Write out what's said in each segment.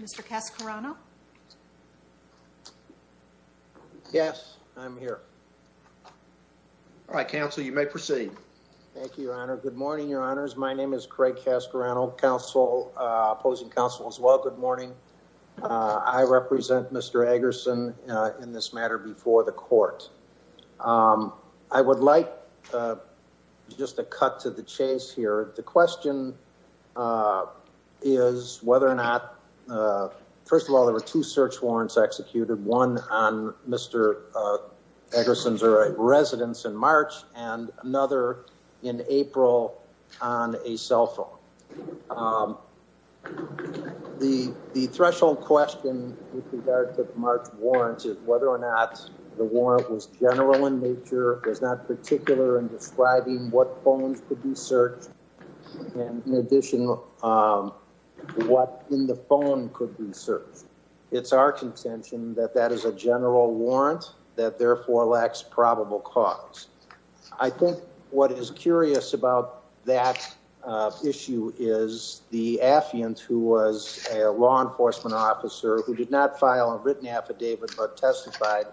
Mr. Cascarano. Yes, I'm here. All right, counsel, you may proceed. Thank you, Your Honor. Good morning, Your Honors. My name is Craig Cascarano, opposing counsel as well. Good morning. I represent Mr. Eggerson in this matter before the court. I would like just a cut to the chase here. The question is whether or not, first of all, there were two search warrants executed, one on Mr. Eggerson's residence in March and another in April on a cell phone. The threshold question with regard to the March warrants is whether or not the warrant was general in nature, was not particular in describing what phones could be searched. And in addition, what in the phone could be searched. It's our contention that that is a general warrant that therefore lacks probable cause. I think what is curious about that issue is the affiant who was a law enforcement officer who did not file a written affidavit but testified,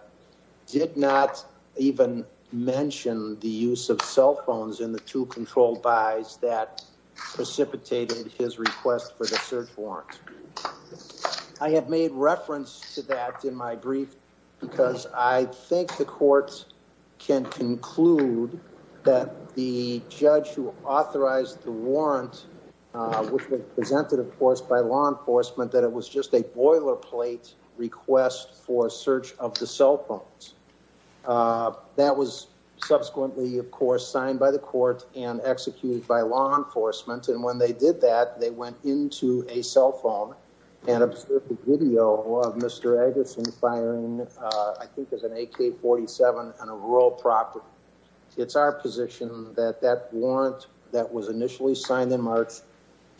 did not even mention the use of cell phones in the two controlled buys that precipitated his request for the search warrant. I have made reference to that in my brief because I think the courts can conclude that the judge who authorized the warrant, which was presented, of course, by law enforcement, that it was just a boilerplate request for search of the cell phones. That was subsequently, of course, signed by the court and executed by law enforcement. And when they did that, they went into a cell phone and observed the video of Mr. Eggerson firing. I think there's an AK forty seven on a rural property. It's our position that that warrant that was initially signed in March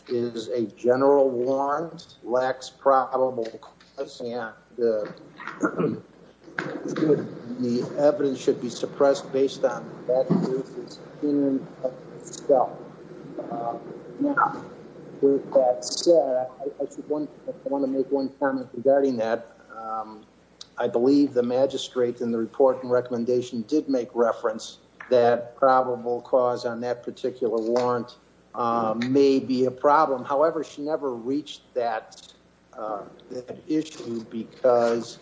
is a general warrant lacks probable. The evidence should be suppressed based on that. Now, I want to make one comment regarding that. I believe the magistrate in the report and recommendation did make reference that probable cause on that particular warrant may be a problem. However, she never reached that issue because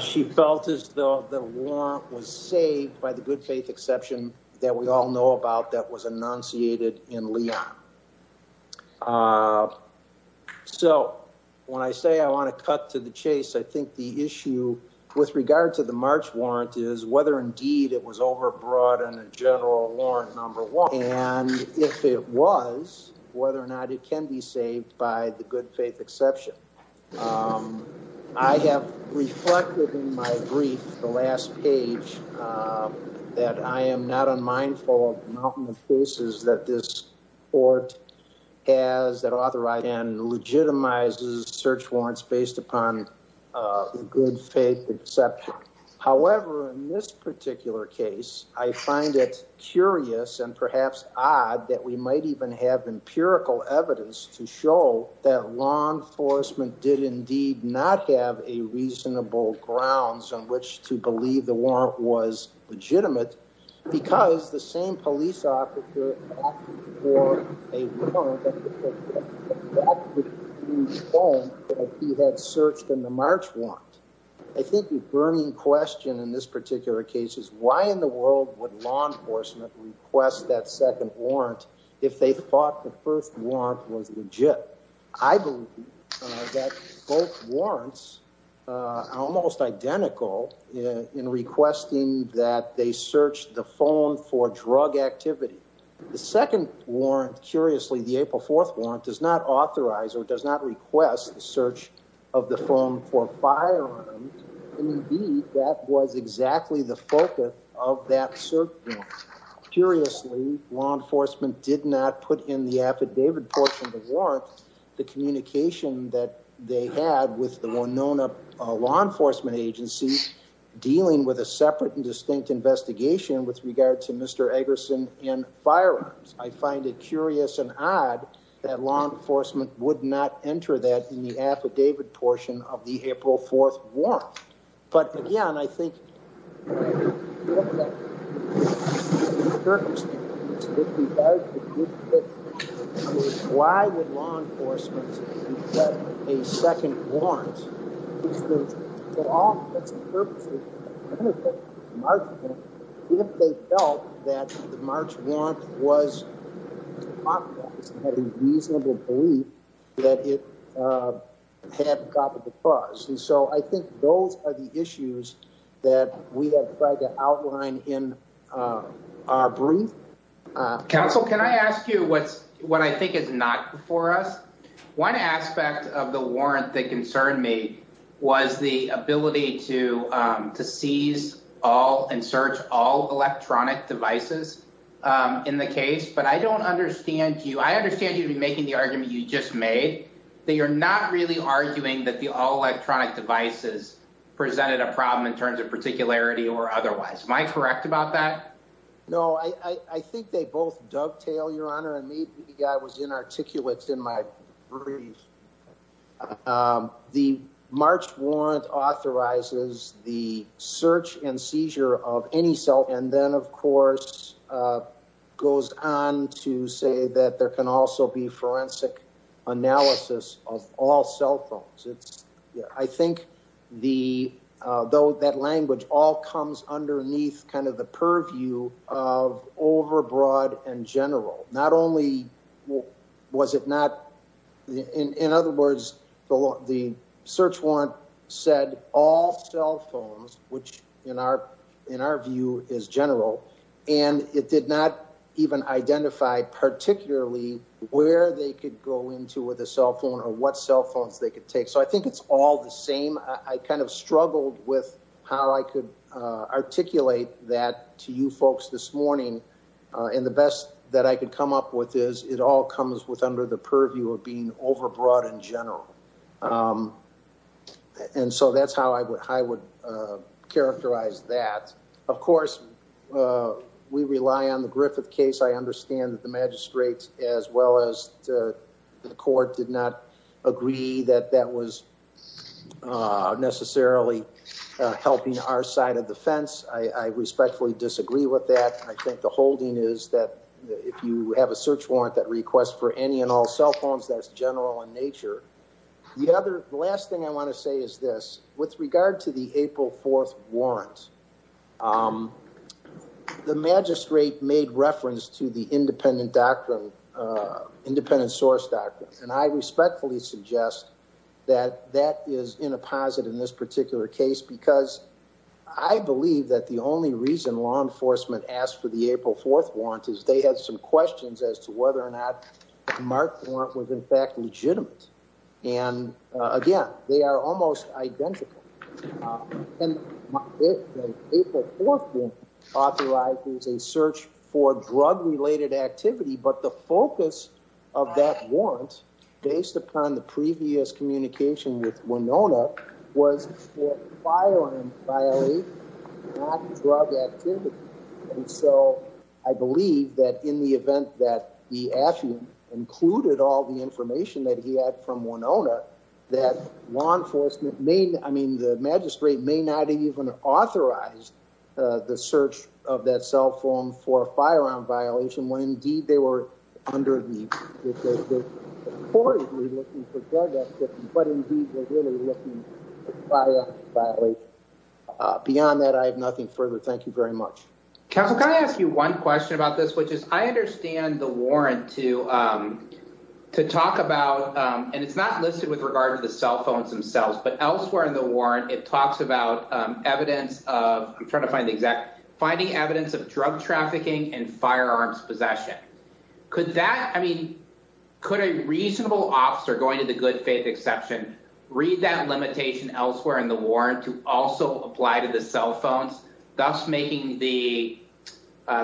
she felt as though the war was saved by the good faith exception that we all know about that was enunciated in. So, when I say I want to cut to the chase, I think the issue with regard to the March warrant is whether indeed it was over broad and a general warrant number one, and if it was, whether or not it can be saved by the good faith exception. I have reflected in my brief the last page that I am not unmindful of the faces that this. Or has that authorize and legitimizes search warrants based upon good faith except however, in this particular case, I find it curious and perhaps odd that we might even have empirical evidence to show that law enforcement did indeed not have a reasonable grounds on which to believe the warrant was legitimate because the same police. A phone that he had searched in the March one. I think the burning question in this particular case is why in the world would law enforcement request that second warrant if they thought the first one was legit? I believe that both warrants almost identical in requesting that they searched the phone for drug activity. The second warrant, curiously, the April 4th warrant does not authorize or does not request the search of the phone for firearms that was exactly the focus of that. Curiously, law enforcement did not put in the affidavit portion of the warrants. The communication that they had with the one known law enforcement agency dealing with a separate and distinct investigation with regard to Mr. Eggerson and firearms. I find it curious and odd that law enforcement would not enter that in the affidavit portion of the April 4th warrants. But again, I think why would law enforcement request a second warrant if they felt that the March warrant was authorized and had a reasonable belief that it had got the cause? And so I think those are the issues that we have tried to outline in our brief council. Can I ask you what's what I think is not for us? One aspect of the warrant that concerned me was the ability to seize all and search all electronic devices in the case. But I don't understand you. I understand you'd be making the argument you just made that you're not really arguing that the electronic devices presented a problem in terms of particularity or otherwise. Am I correct about that? No, I think they both dovetail your honor and meet the guy was inarticulate in my brief. The March warrant authorizes the search and seizure of any cell and then, of course, goes on to say that there can also be forensic analysis of all cell phones. It's I think the though that language all comes underneath kind of the purview of overbroad and general. Not only was it not in other words, the search warrant said all cell phones, which in our in our view is general and it did not even identify particularly where they could go into with a cell phone or what cell phones they could take. So, I think it's all the same. I kind of struggled with how I could articulate that to you folks this morning and the best that I could come up with is it all comes with under the purview of being overbroad in general. And so that's how I would, I would characterize that. Of course, we rely on the Griffith case. I understand that the magistrates as well as the court did not agree that that was necessarily helping our side of the fence. I respectfully disagree with that. I think the holding is that if you have a search warrant that request for any and all cell phones, that's general in nature. The other last thing I want to say is this with regard to the April 4th warrants. Um, the magistrate made reference to the independent doctrine, independent source doctrine, and I respectfully suggest that that is in a positive in this particular case, because I believe that the only reason law enforcement asked for the April 4th warrant is they had some questions as to whether or not mark warrant was in fact legitimate. And again, they are almost identical. And April 4th warrant authorizes a search for drug related activity. But the focus of that warrant, based upon the previous communication with Winona, was for firing, violating not drug activity. And so I believe that in the event that the affiant included all the information that he had from Winona, that law enforcement may, I mean, the magistrate may not even authorize the search of that cell phone for a firearm violation when indeed they were under the but indeed they were really looking for firearm violation. Beyond that, I have nothing further. Thank you very much. Counselor, can I ask you one question about this, which is, I understand the warrant to to talk about, and it's not listed with regard to the cell phones themselves, but elsewhere in the warrant, it talks about evidence of trying to find the exact finding evidence of drug trafficking and firearms possession. Could that, I mean, could a reasonable officer going to the good faith exception, read that limitation elsewhere in the warrant to also apply to the cell phones, thus making the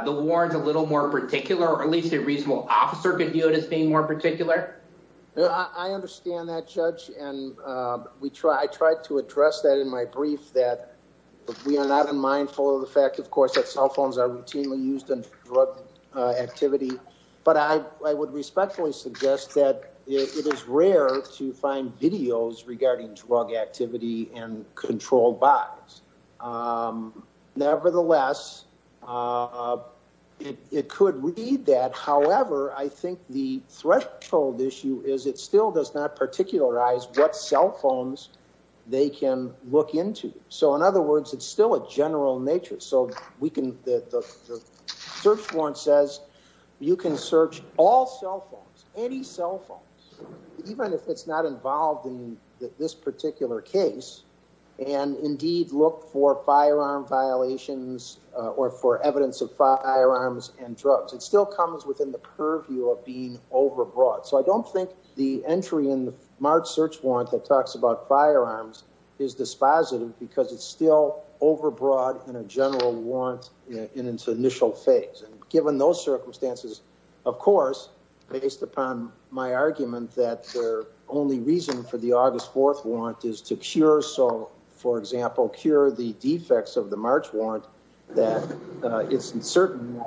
the warrants a little more particular, or at least a reasonable officer could view it as being more particular. I understand that judge, and we try, I tried to address that in my brief that we are not unmindful of the fact, of course, that cell phones are routinely used in drug activity, but I would respectfully suggest that it is rare to find videos regarding drug activity and controlled by nevertheless. It could read that. However, I think the threshold issue is, it still does not particularize what cell phones they can look into. So, in other words, it's still a general nature. So we can, the search warrant says you can search all cell phones, any cell phone, even if it's not involved in this particular case, and indeed look for firearm violations or for evidence of firearms and drugs. It still comes within the purview of being overbroad. So I don't think the entry in the March search warrant that talks about firearms is dispositive because it's still overbroad in a general warrant in its initial phase. And given those circumstances, of course, based upon my argument that their only reason for the August 4th warrant is to cure. For example, cure the defects of the March warrant that it's in certain.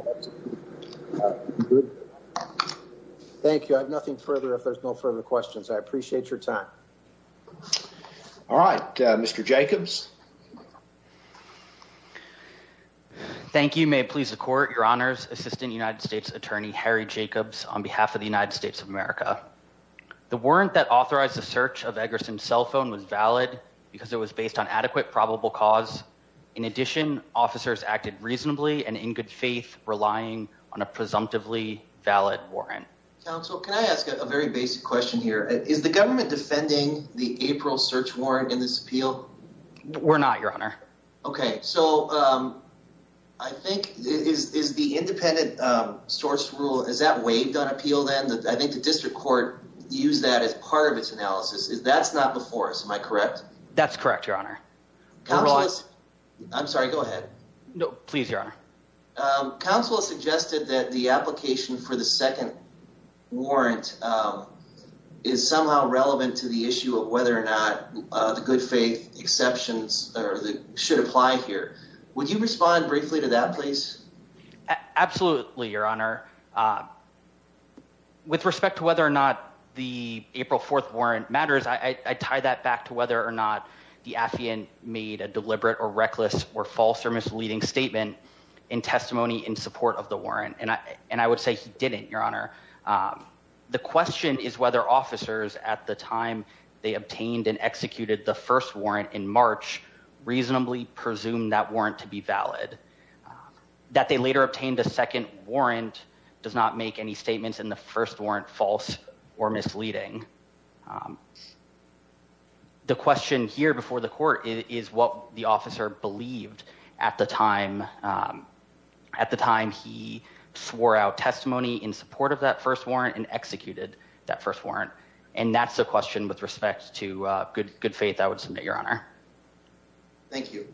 Thank you. I have nothing further. If there's no further questions, I appreciate your time. All right, Mr. Jacobs. Thank you. May it please the court, your honors, assistant United States attorney, Harry Jacobs, on behalf of the United States of America. The warrant that authorized the search of Eggerson's cell phone was valid. Because it was based on adequate, probable cause. In addition, officers acted reasonably and in good faith, relying on a presumptively valid warrant. Counsel, can I ask a very basic question here? Is the government defending the April search warrant in this appeal? We're not, your honor. Okay, so, um, I think is the independent source rule. Is that waived on appeal? Then I think the district court use that as part of its analysis. Is that's not before us. Am I correct? That's correct. Your honor. Counselors. I'm sorry. Go ahead. No, please. Your honor. Um, counsel suggested that the application for the second warrant, um, is somehow relevant to the issue of whether or not the good faith exceptions or the should apply here. Would you respond briefly to that? Please? Absolutely. Your honor. Uh, with respect to whether or not the April 4th warrant matters, I tie that back to whether or not the Afian made a deliberate or reckless or false or misleading statement in testimony in support of the warrant. And I, and I would say he didn't, your honor. Um, the question is whether officers at the time they obtained and executed the first warrant in March reasonably presumed that warrant to be valid, um, that they later obtained a second warrant does not make any statements in the first warrant, false or misleading. Um, the question here before the court is what the officer believed at the time. Um, at the time he swore out testimony in support of that first warrant and executed that first warrant. And that's the question with respect to a good, good faith. I would submit your honor. Thank you.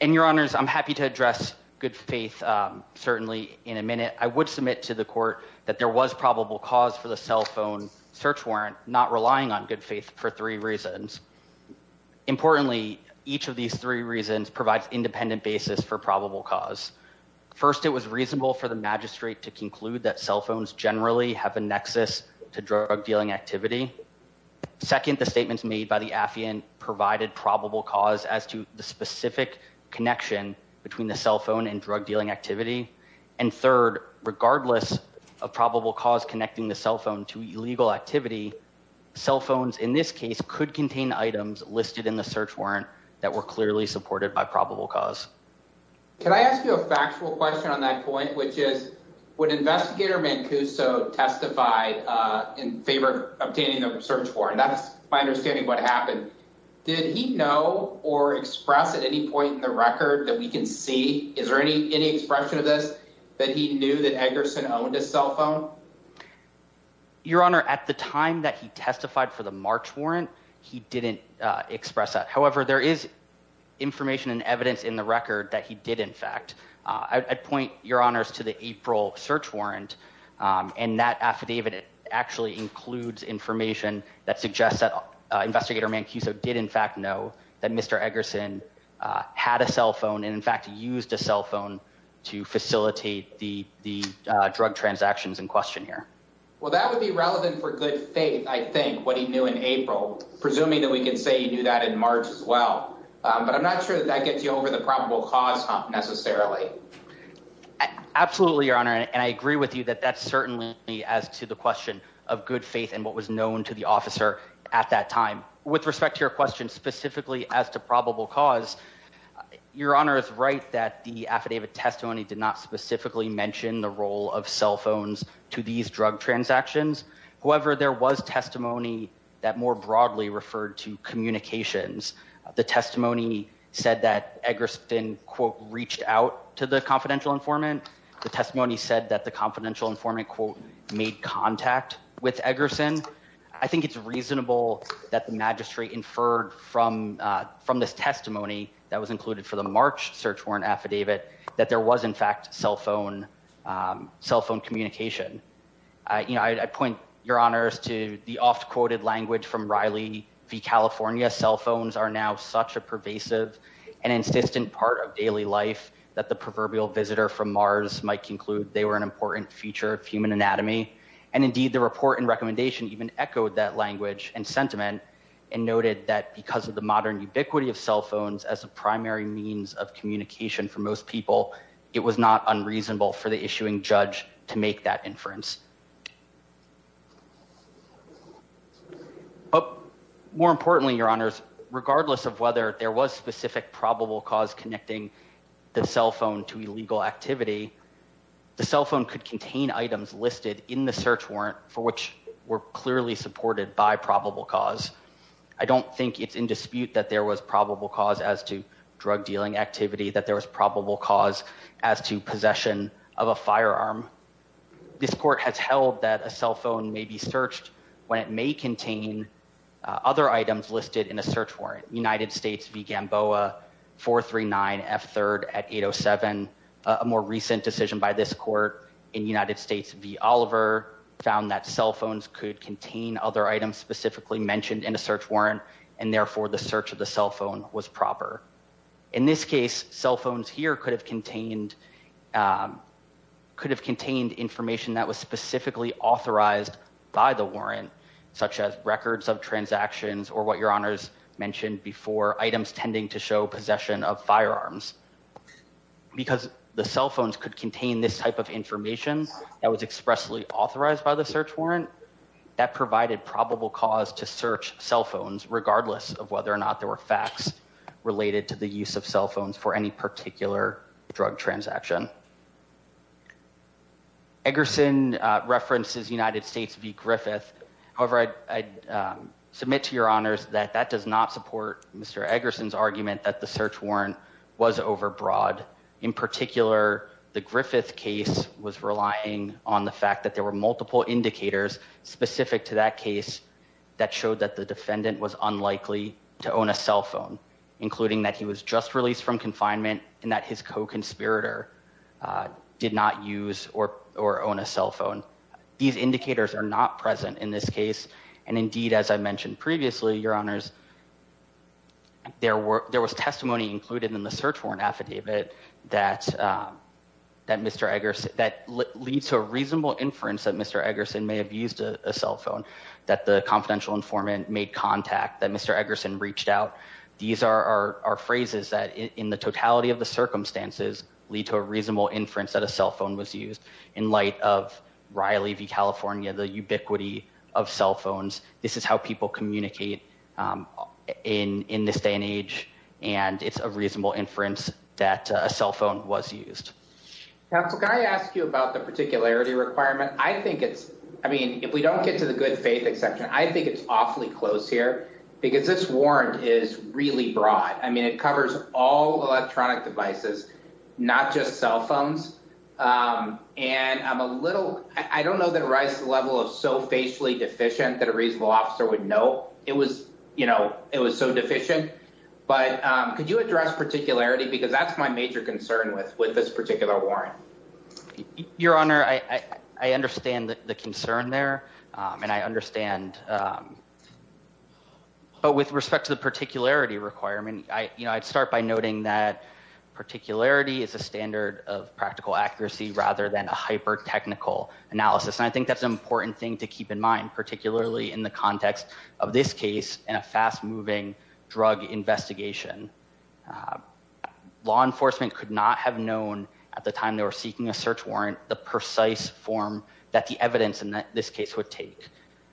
And your honors, I'm happy to address good faith. Um, certainly in a minute I would submit to the court that there was probable cause for the cell phone search warrant, not relying on good faith for three reasons. Importantly, each of these three reasons provides independent basis for probable cause. First, it was reasonable for the magistrate to conclude that cell phones generally have a nexus to drug dealing activity. Second, the statements made by the Afian provided probable cause as to the specific connection between the cell phone and drug dealing activity. And third, regardless of probable cause connecting the cell phone to illegal activity, cell phones, in this case could contain items listed in the search warrant that were clearly supported by probable cause. Can I ask you a factual question on that point, which is what investigator Mancuso testified, uh, in favor of obtaining the search for, and that's my understanding of what happened. Did he know or express at any point in the record that we can see, is there any, any expression of this, that he knew that Eggerson owned a cell phone? Your honor, at the time that he testified for the March warrant, he didn't express that. However, there is information and evidence in the record that he did. In fact, uh, I'd point your honors to the April search warrant. Um, and that affidavit actually includes information that suggests that, uh, investigator Mancuso did in fact know that Mr. Eggerson, uh, had a cell phone and in fact used a cell phone, to facilitate the, the, uh, drug transactions in question here. Well, that would be relevant for good faith. I think what he knew in April, presuming that we can say you knew that in March as well. Um, but I'm not sure that that gets you over the probable cause necessarily. Absolutely. Your honor. And I agree with you that that's certainly as to the question of good faith and what was known to the officer at that time, with respect to your question specifically as to probable cause your honor is right. That the affidavit testimony did not specifically mention the role of cell phones to these drug transactions. However, there was testimony that more broadly referred to communications. The testimony said that Eggerson quote reached out to the confidential informant. The testimony said that the confidential informant quote made contact with Eggerson. I think it's reasonable that the magistrate inferred from, uh, from this testimony that was included for the March search warrant affidavit that there was in fact, cell phone, um, cell phone communication. Uh, you know, I point your honors to the oft quoted language from Riley V. California cell phones are now such a pervasive and insistent part of daily life that the proverbial visitor from Mars might conclude they were an important feature of human anatomy. And indeed the report and recommendation even echoed that language and sentiment and noted that because of the modern ubiquity of cell phones as a primary means of communication for most people, it was not unreasonable for the issuing judge to make that inference. Oh, more importantly, your honors, regardless of whether there was specific probable cause connecting the cell phone to illegal activity, the cell phone could contain items listed in the search warrant for which were I don't think it's in dispute that there was probable cause as to drug dealing activity, that there was probable cause as to possession of a firearm. This court has held that a cell phone may be searched when it may contain, uh, other items listed in a search warrant, United States began boa four, three, nine F third at eight Oh seven, a more recent decision by this court in United States, the Oliver found that cell phones could contain other items specifically mentioned in a search warrant. And therefore the search of the cell phone was proper. In this case, cell phones here could have contained, um, could have contained information that was specifically authorized by the warrant, such as records of transactions or what your honors mentioned before items tending to show possession of firearms, because the cell phones could contain this type of information that was expressly authorized by the search warrant that provided probable cause to search cell phones, regardless of whether or not there were facts related to the use of cell phones for any particular drug transaction. Eggerson, uh, references United States V Griffith. However, I, I, um, submit to your honors that that does not support Mr. Eggerson's argument that the search warrant was overbroad. In particular, the Griffith case was relying on the fact that there were multiple indicators specific to that case that showed that the defendant was unlikely to own a cell phone, including that he was just released from confinement and that his co-conspirator, uh, did not use or, or own a cell phone. These indicators are not present in this case. And indeed, as I mentioned previously, your honors, there were, there was testimony included in the search warrant affidavit that, um, that Mr. Eggerson that leads to a reasonable inference that Mr. Eggerson may have used a cell phone that the confidential informant made contact that Mr. Eggerson reached out. These are our, our phrases that in the totality of the circumstances lead to a reasonable inference that a cell phone was used in light of Riley V California, the ubiquity of cell phones. This is how people communicate, um, in, in this day and age. And it's a reasonable inference that a cell phone was used. Counsel. Can I ask you about the particularity requirement? I think it's, I mean, if we don't get to the good faith exception, I think it's awfully close here because this warrant is really broad. I mean, it covers all electronic devices, not just cell phones. Um, and I'm a little, I don't know that rice level of so facially deficient that a reasonable officer would know it was, you know, it was so deficient, but, um, could you address particularity? Because that's my major concern with, with this particular warrant, your honor. I, I understand the concern there. Um, and I understand, um, but with respect to the particularity requirement, I, you know, I'd start by noting that particularity is a standard of practical accuracy rather than a hyper technical analysis. And I think that's an important thing to keep in mind, particularly in the context of this case and a fast moving drug investigation. Uh, law enforcement could not have known at the time they were seeking a search warrant, the precise form that the evidence in this case would take,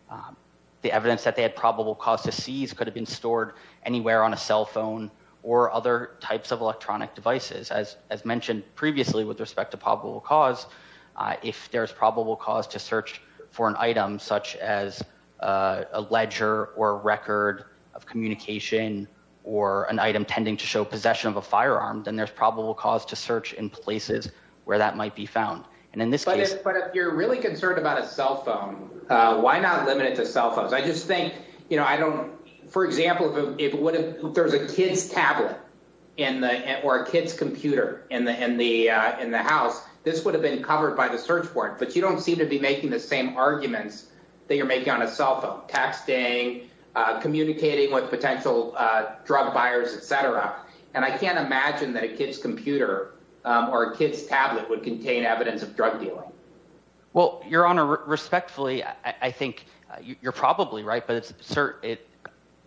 um, the evidence that they had probable cause to seize could have been stored anywhere on a cell phone or other types of electronic devices, as, as mentioned previously, with respect to probable cause, uh, if there's probable cause to search for an item, such as a ledger or record of communication or an item tending to show possession of a firearm, then there's probable cause to search in places where that might be found. And in this case, but if you're really concerned about a cell phone, uh, why not limit it to cell phones? I just think, you know, I don't, for example, if it wouldn't, if there was a kid's tablet in the, or a kid's computer in the, in the, uh, in the house, this would have been covered by the search warrant, but you don't seem to be making the same arguments that you're making on a cell phone, texting, uh, communicating with potential, uh, drug buyers, et cetera. And I can't imagine that a kid's computer, um, or a kid's tablet would contain evidence of drug dealing. Well, your honor respectfully, I think you're probably right, but it's cert it,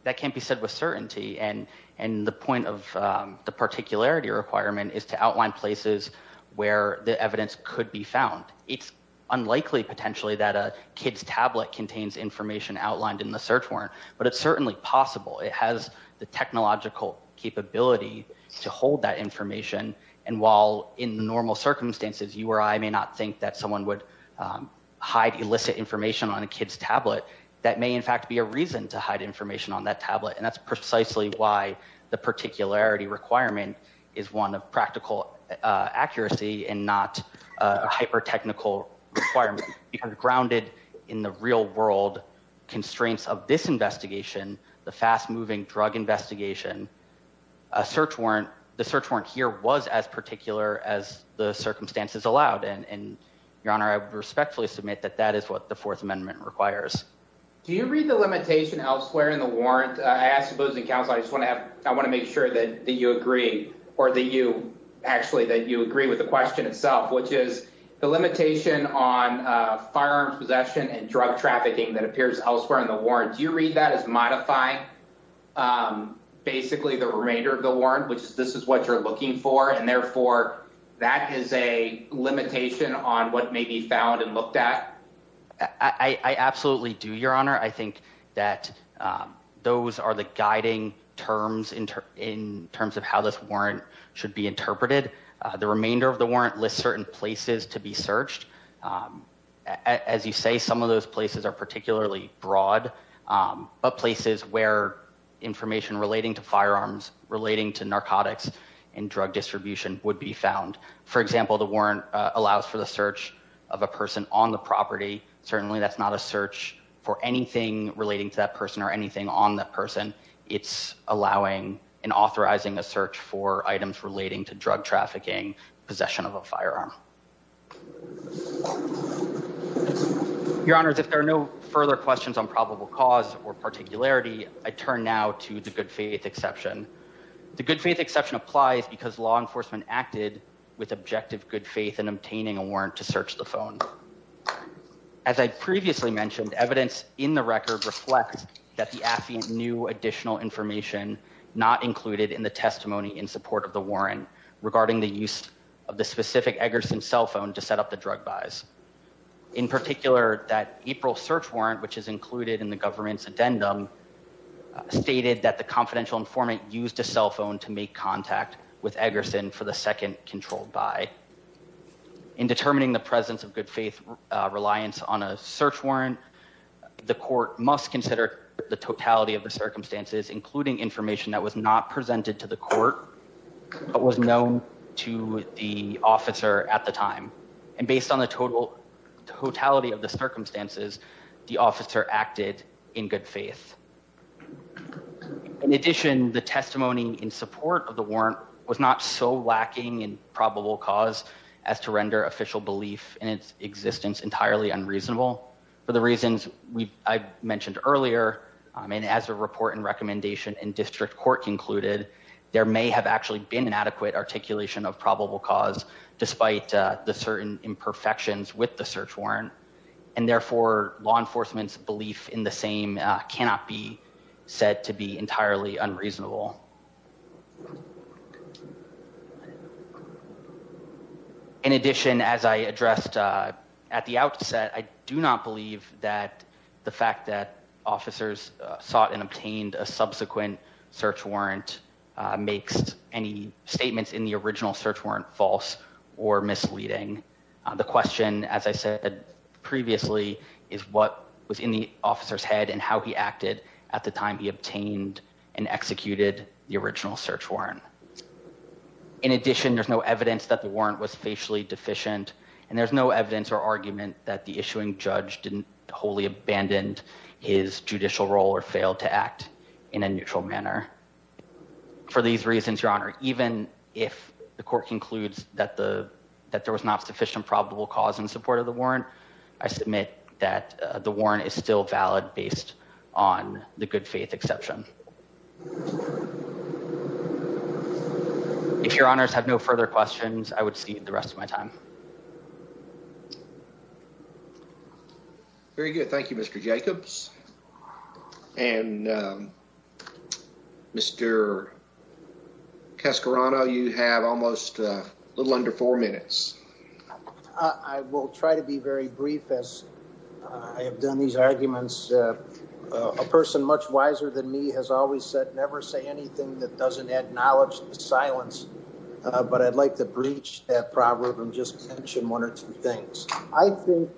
that can't be said with certainty. And, and the point of, um, the particularity requirement is to outline places where the evidence could be found. It's unlikely potentially that a kid's tablet contains information outlined in the search warrant, but it's certainly possible. It has the technological capability to hold that information. And while in normal circumstances, you or I may not think that someone would, um, hide illicit information on a kid's tablet, that may in fact be a reason to hide information on that tablet. And that's precisely why the particularity requirement is one of practical, uh, accuracy and not a hyper-technical requirement because grounded in the real world constraints of this investigation, the fast moving drug investigation, a search warrant, the search warrant here was as particular as the circumstances allowed. And, and your honor, I respectfully submit that that is what the fourth amendment requires. Do you read the limitation elsewhere in the warrant? I asked the opposing counsel. I just want to have, I want to make sure that you agree or that you actually, that you agree with the question itself, which is the limitation on a firearm possession and drug trafficking that appears elsewhere in the warrant. Do you read that as modify, um, basically the remainder of the warrant, which is, this is what you're looking for. And therefore that is a limitation on what may be found and looked at. I absolutely do your honor. I think that, um, those are the guiding terms in, in terms of how this warrant should be interpreted. Uh, the remainder of the warrant lists certain places to be searched. Um, as you say, some of those places are particularly broad, um, but places where information relating to firearms, relating to narcotics and drug distribution would be found. For example, the warrant allows for the search of a person on the property. Certainly that's not a search for anything relating to that person or anything on that person. It's allowing an authorizing a search for items relating to drug trafficking, possession of a firearm. Your honors, if there are no further questions on probable cause or particularity, I turn now to the good faith exception. The good faith exception applies because law enforcement acted with objective good faith and obtaining a warrant to search the phone. As I previously mentioned, evidence in the record reflects that the AFI new additional information not included in the testimony in support of the warrant regarding the use of the specific Eggerson cell phone to set up the drug buys in particular that April search warrant, which is included in the government's addendum stated that the confidential informant used a cell phone to make contact with Eggerson for the second controlled by in determining the presence of good faith reliance on a search warrant, the court must consider the totality of the circumstances, including information that was not presented to the court, but was known to the officer at the time. And based on the total totality of the circumstances, the officer acted in good faith. In addition, the testimony in support of the warrant was not so lacking in probable cause as to render official belief in its existence, entirely unreasonable for the reasons I mentioned earlier. I mean, as a report and recommendation and district court concluded, there may have actually been an adequate articulation of probable cause despite the certain imperfections with the search warrant and therefore law enforcement's belief in the same cannot be said to be entirely unreasonable. In addition, as I addressed at the outset, I do not believe that the fact that officers sought and obtained a subsequent search warrant makes any statements in the original search warrant false or misleading. The question, as I said previously, is what was in the officer's head and how he acted at the time he obtained and executed the original search warrant. In addition, there's no evidence that the warrant was facially deficient and there's no evidence or argument that the issuing judge didn't wholly abandoned his judicial role or failed to act in a neutral manner for these reasons, Your Honor, even if the court concludes that the, that there was not sufficient probable cause in support of the warrant, I submit that the warrant is still valid based on the good faith exception. If your honors have no further questions, I would see the rest of my time. Very good. Thank you, Mr. Jacobs and Mr. Cascarano, you have almost a little under four minutes. I will try to be very brief as I have done these arguments. A person much wiser than me has always said, never say anything that doesn't acknowledge the silence. But I'd like to breach that proverb and just mention one or two things. I think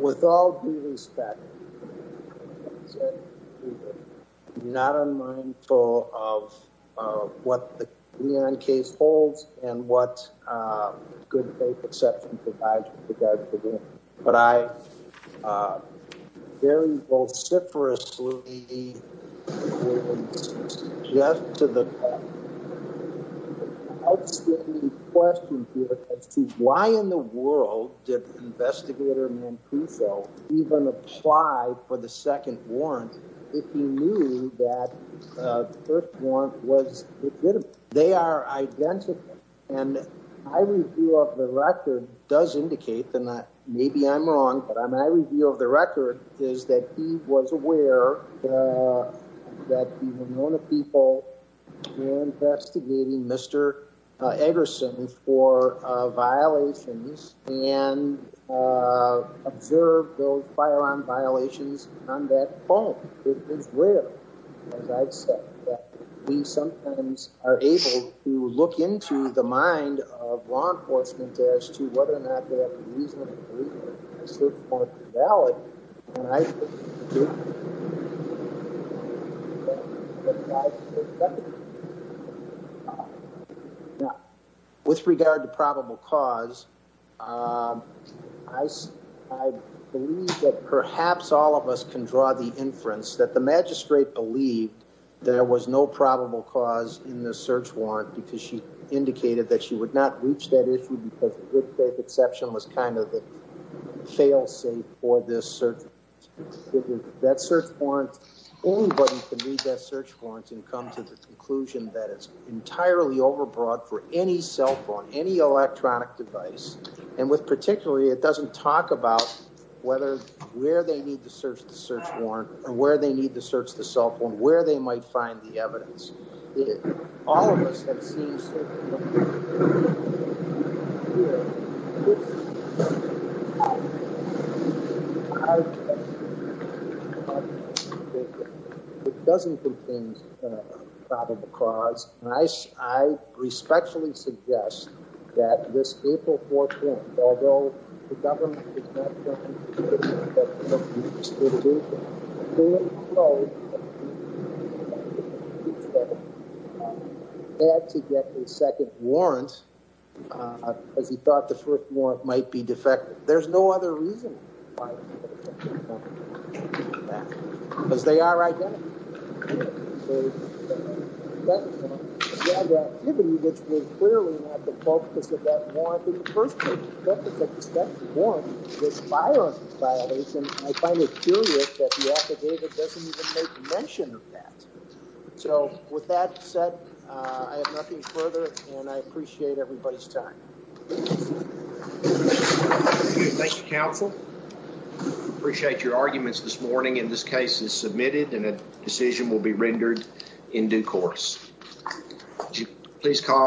with all due respect, I'm not unmindful of what the Leon case holds and what good faith exception provides with regards to the warrant, but I very vociferously just to the outstanding question here as to why in the world did investigator Mancuso even apply for the second warrant? If he knew that the first one was legitimate, they are identical and I review of the record does indicate that maybe I'm wrong, but I'm I review of the record is that he was aware that the Ramona people were investigating Mr. Eggerson for violations and observed those firearm violations on that phone. It is rare as I've said that we sometimes are able to look into the mind of law enforcement as to whether or not they have a reason to believe it is more valid. With regard to probable cause, um, I S I believe that perhaps all of us can draw the inference that the magistrate believed there was no probable cause in the search warrant because she indicated that she would not reach that issue because good faith exception was kind of a fail safe for this search. That search warrant, anybody can read that search warrants and come to the conclusion that it's entirely overbroad for any cell phone, any electronic device and with particularly, it doesn't talk about whether where they need to search the search warrant and where they need to search the cell phone, where they might find the evidence. All of us have seen it doesn't contain probable cause. Nice. I respectfully suggest that this April 4th, although the government had to get the second warrants, cause he thought the first warrant might be defective. There's no other reason cause they are right. The activity that's been clearly not the focus of that warrant in the first place. That's a defective warrant with firearms violation. I find it curious that the affidavit doesn't even make mention of that. So with that said, uh, I have nothing further and I appreciate everybody's time. Thank you, counsel. Appreciate your arguments this morning. In this case is submitted and a decision will be rendered in due course. Please call.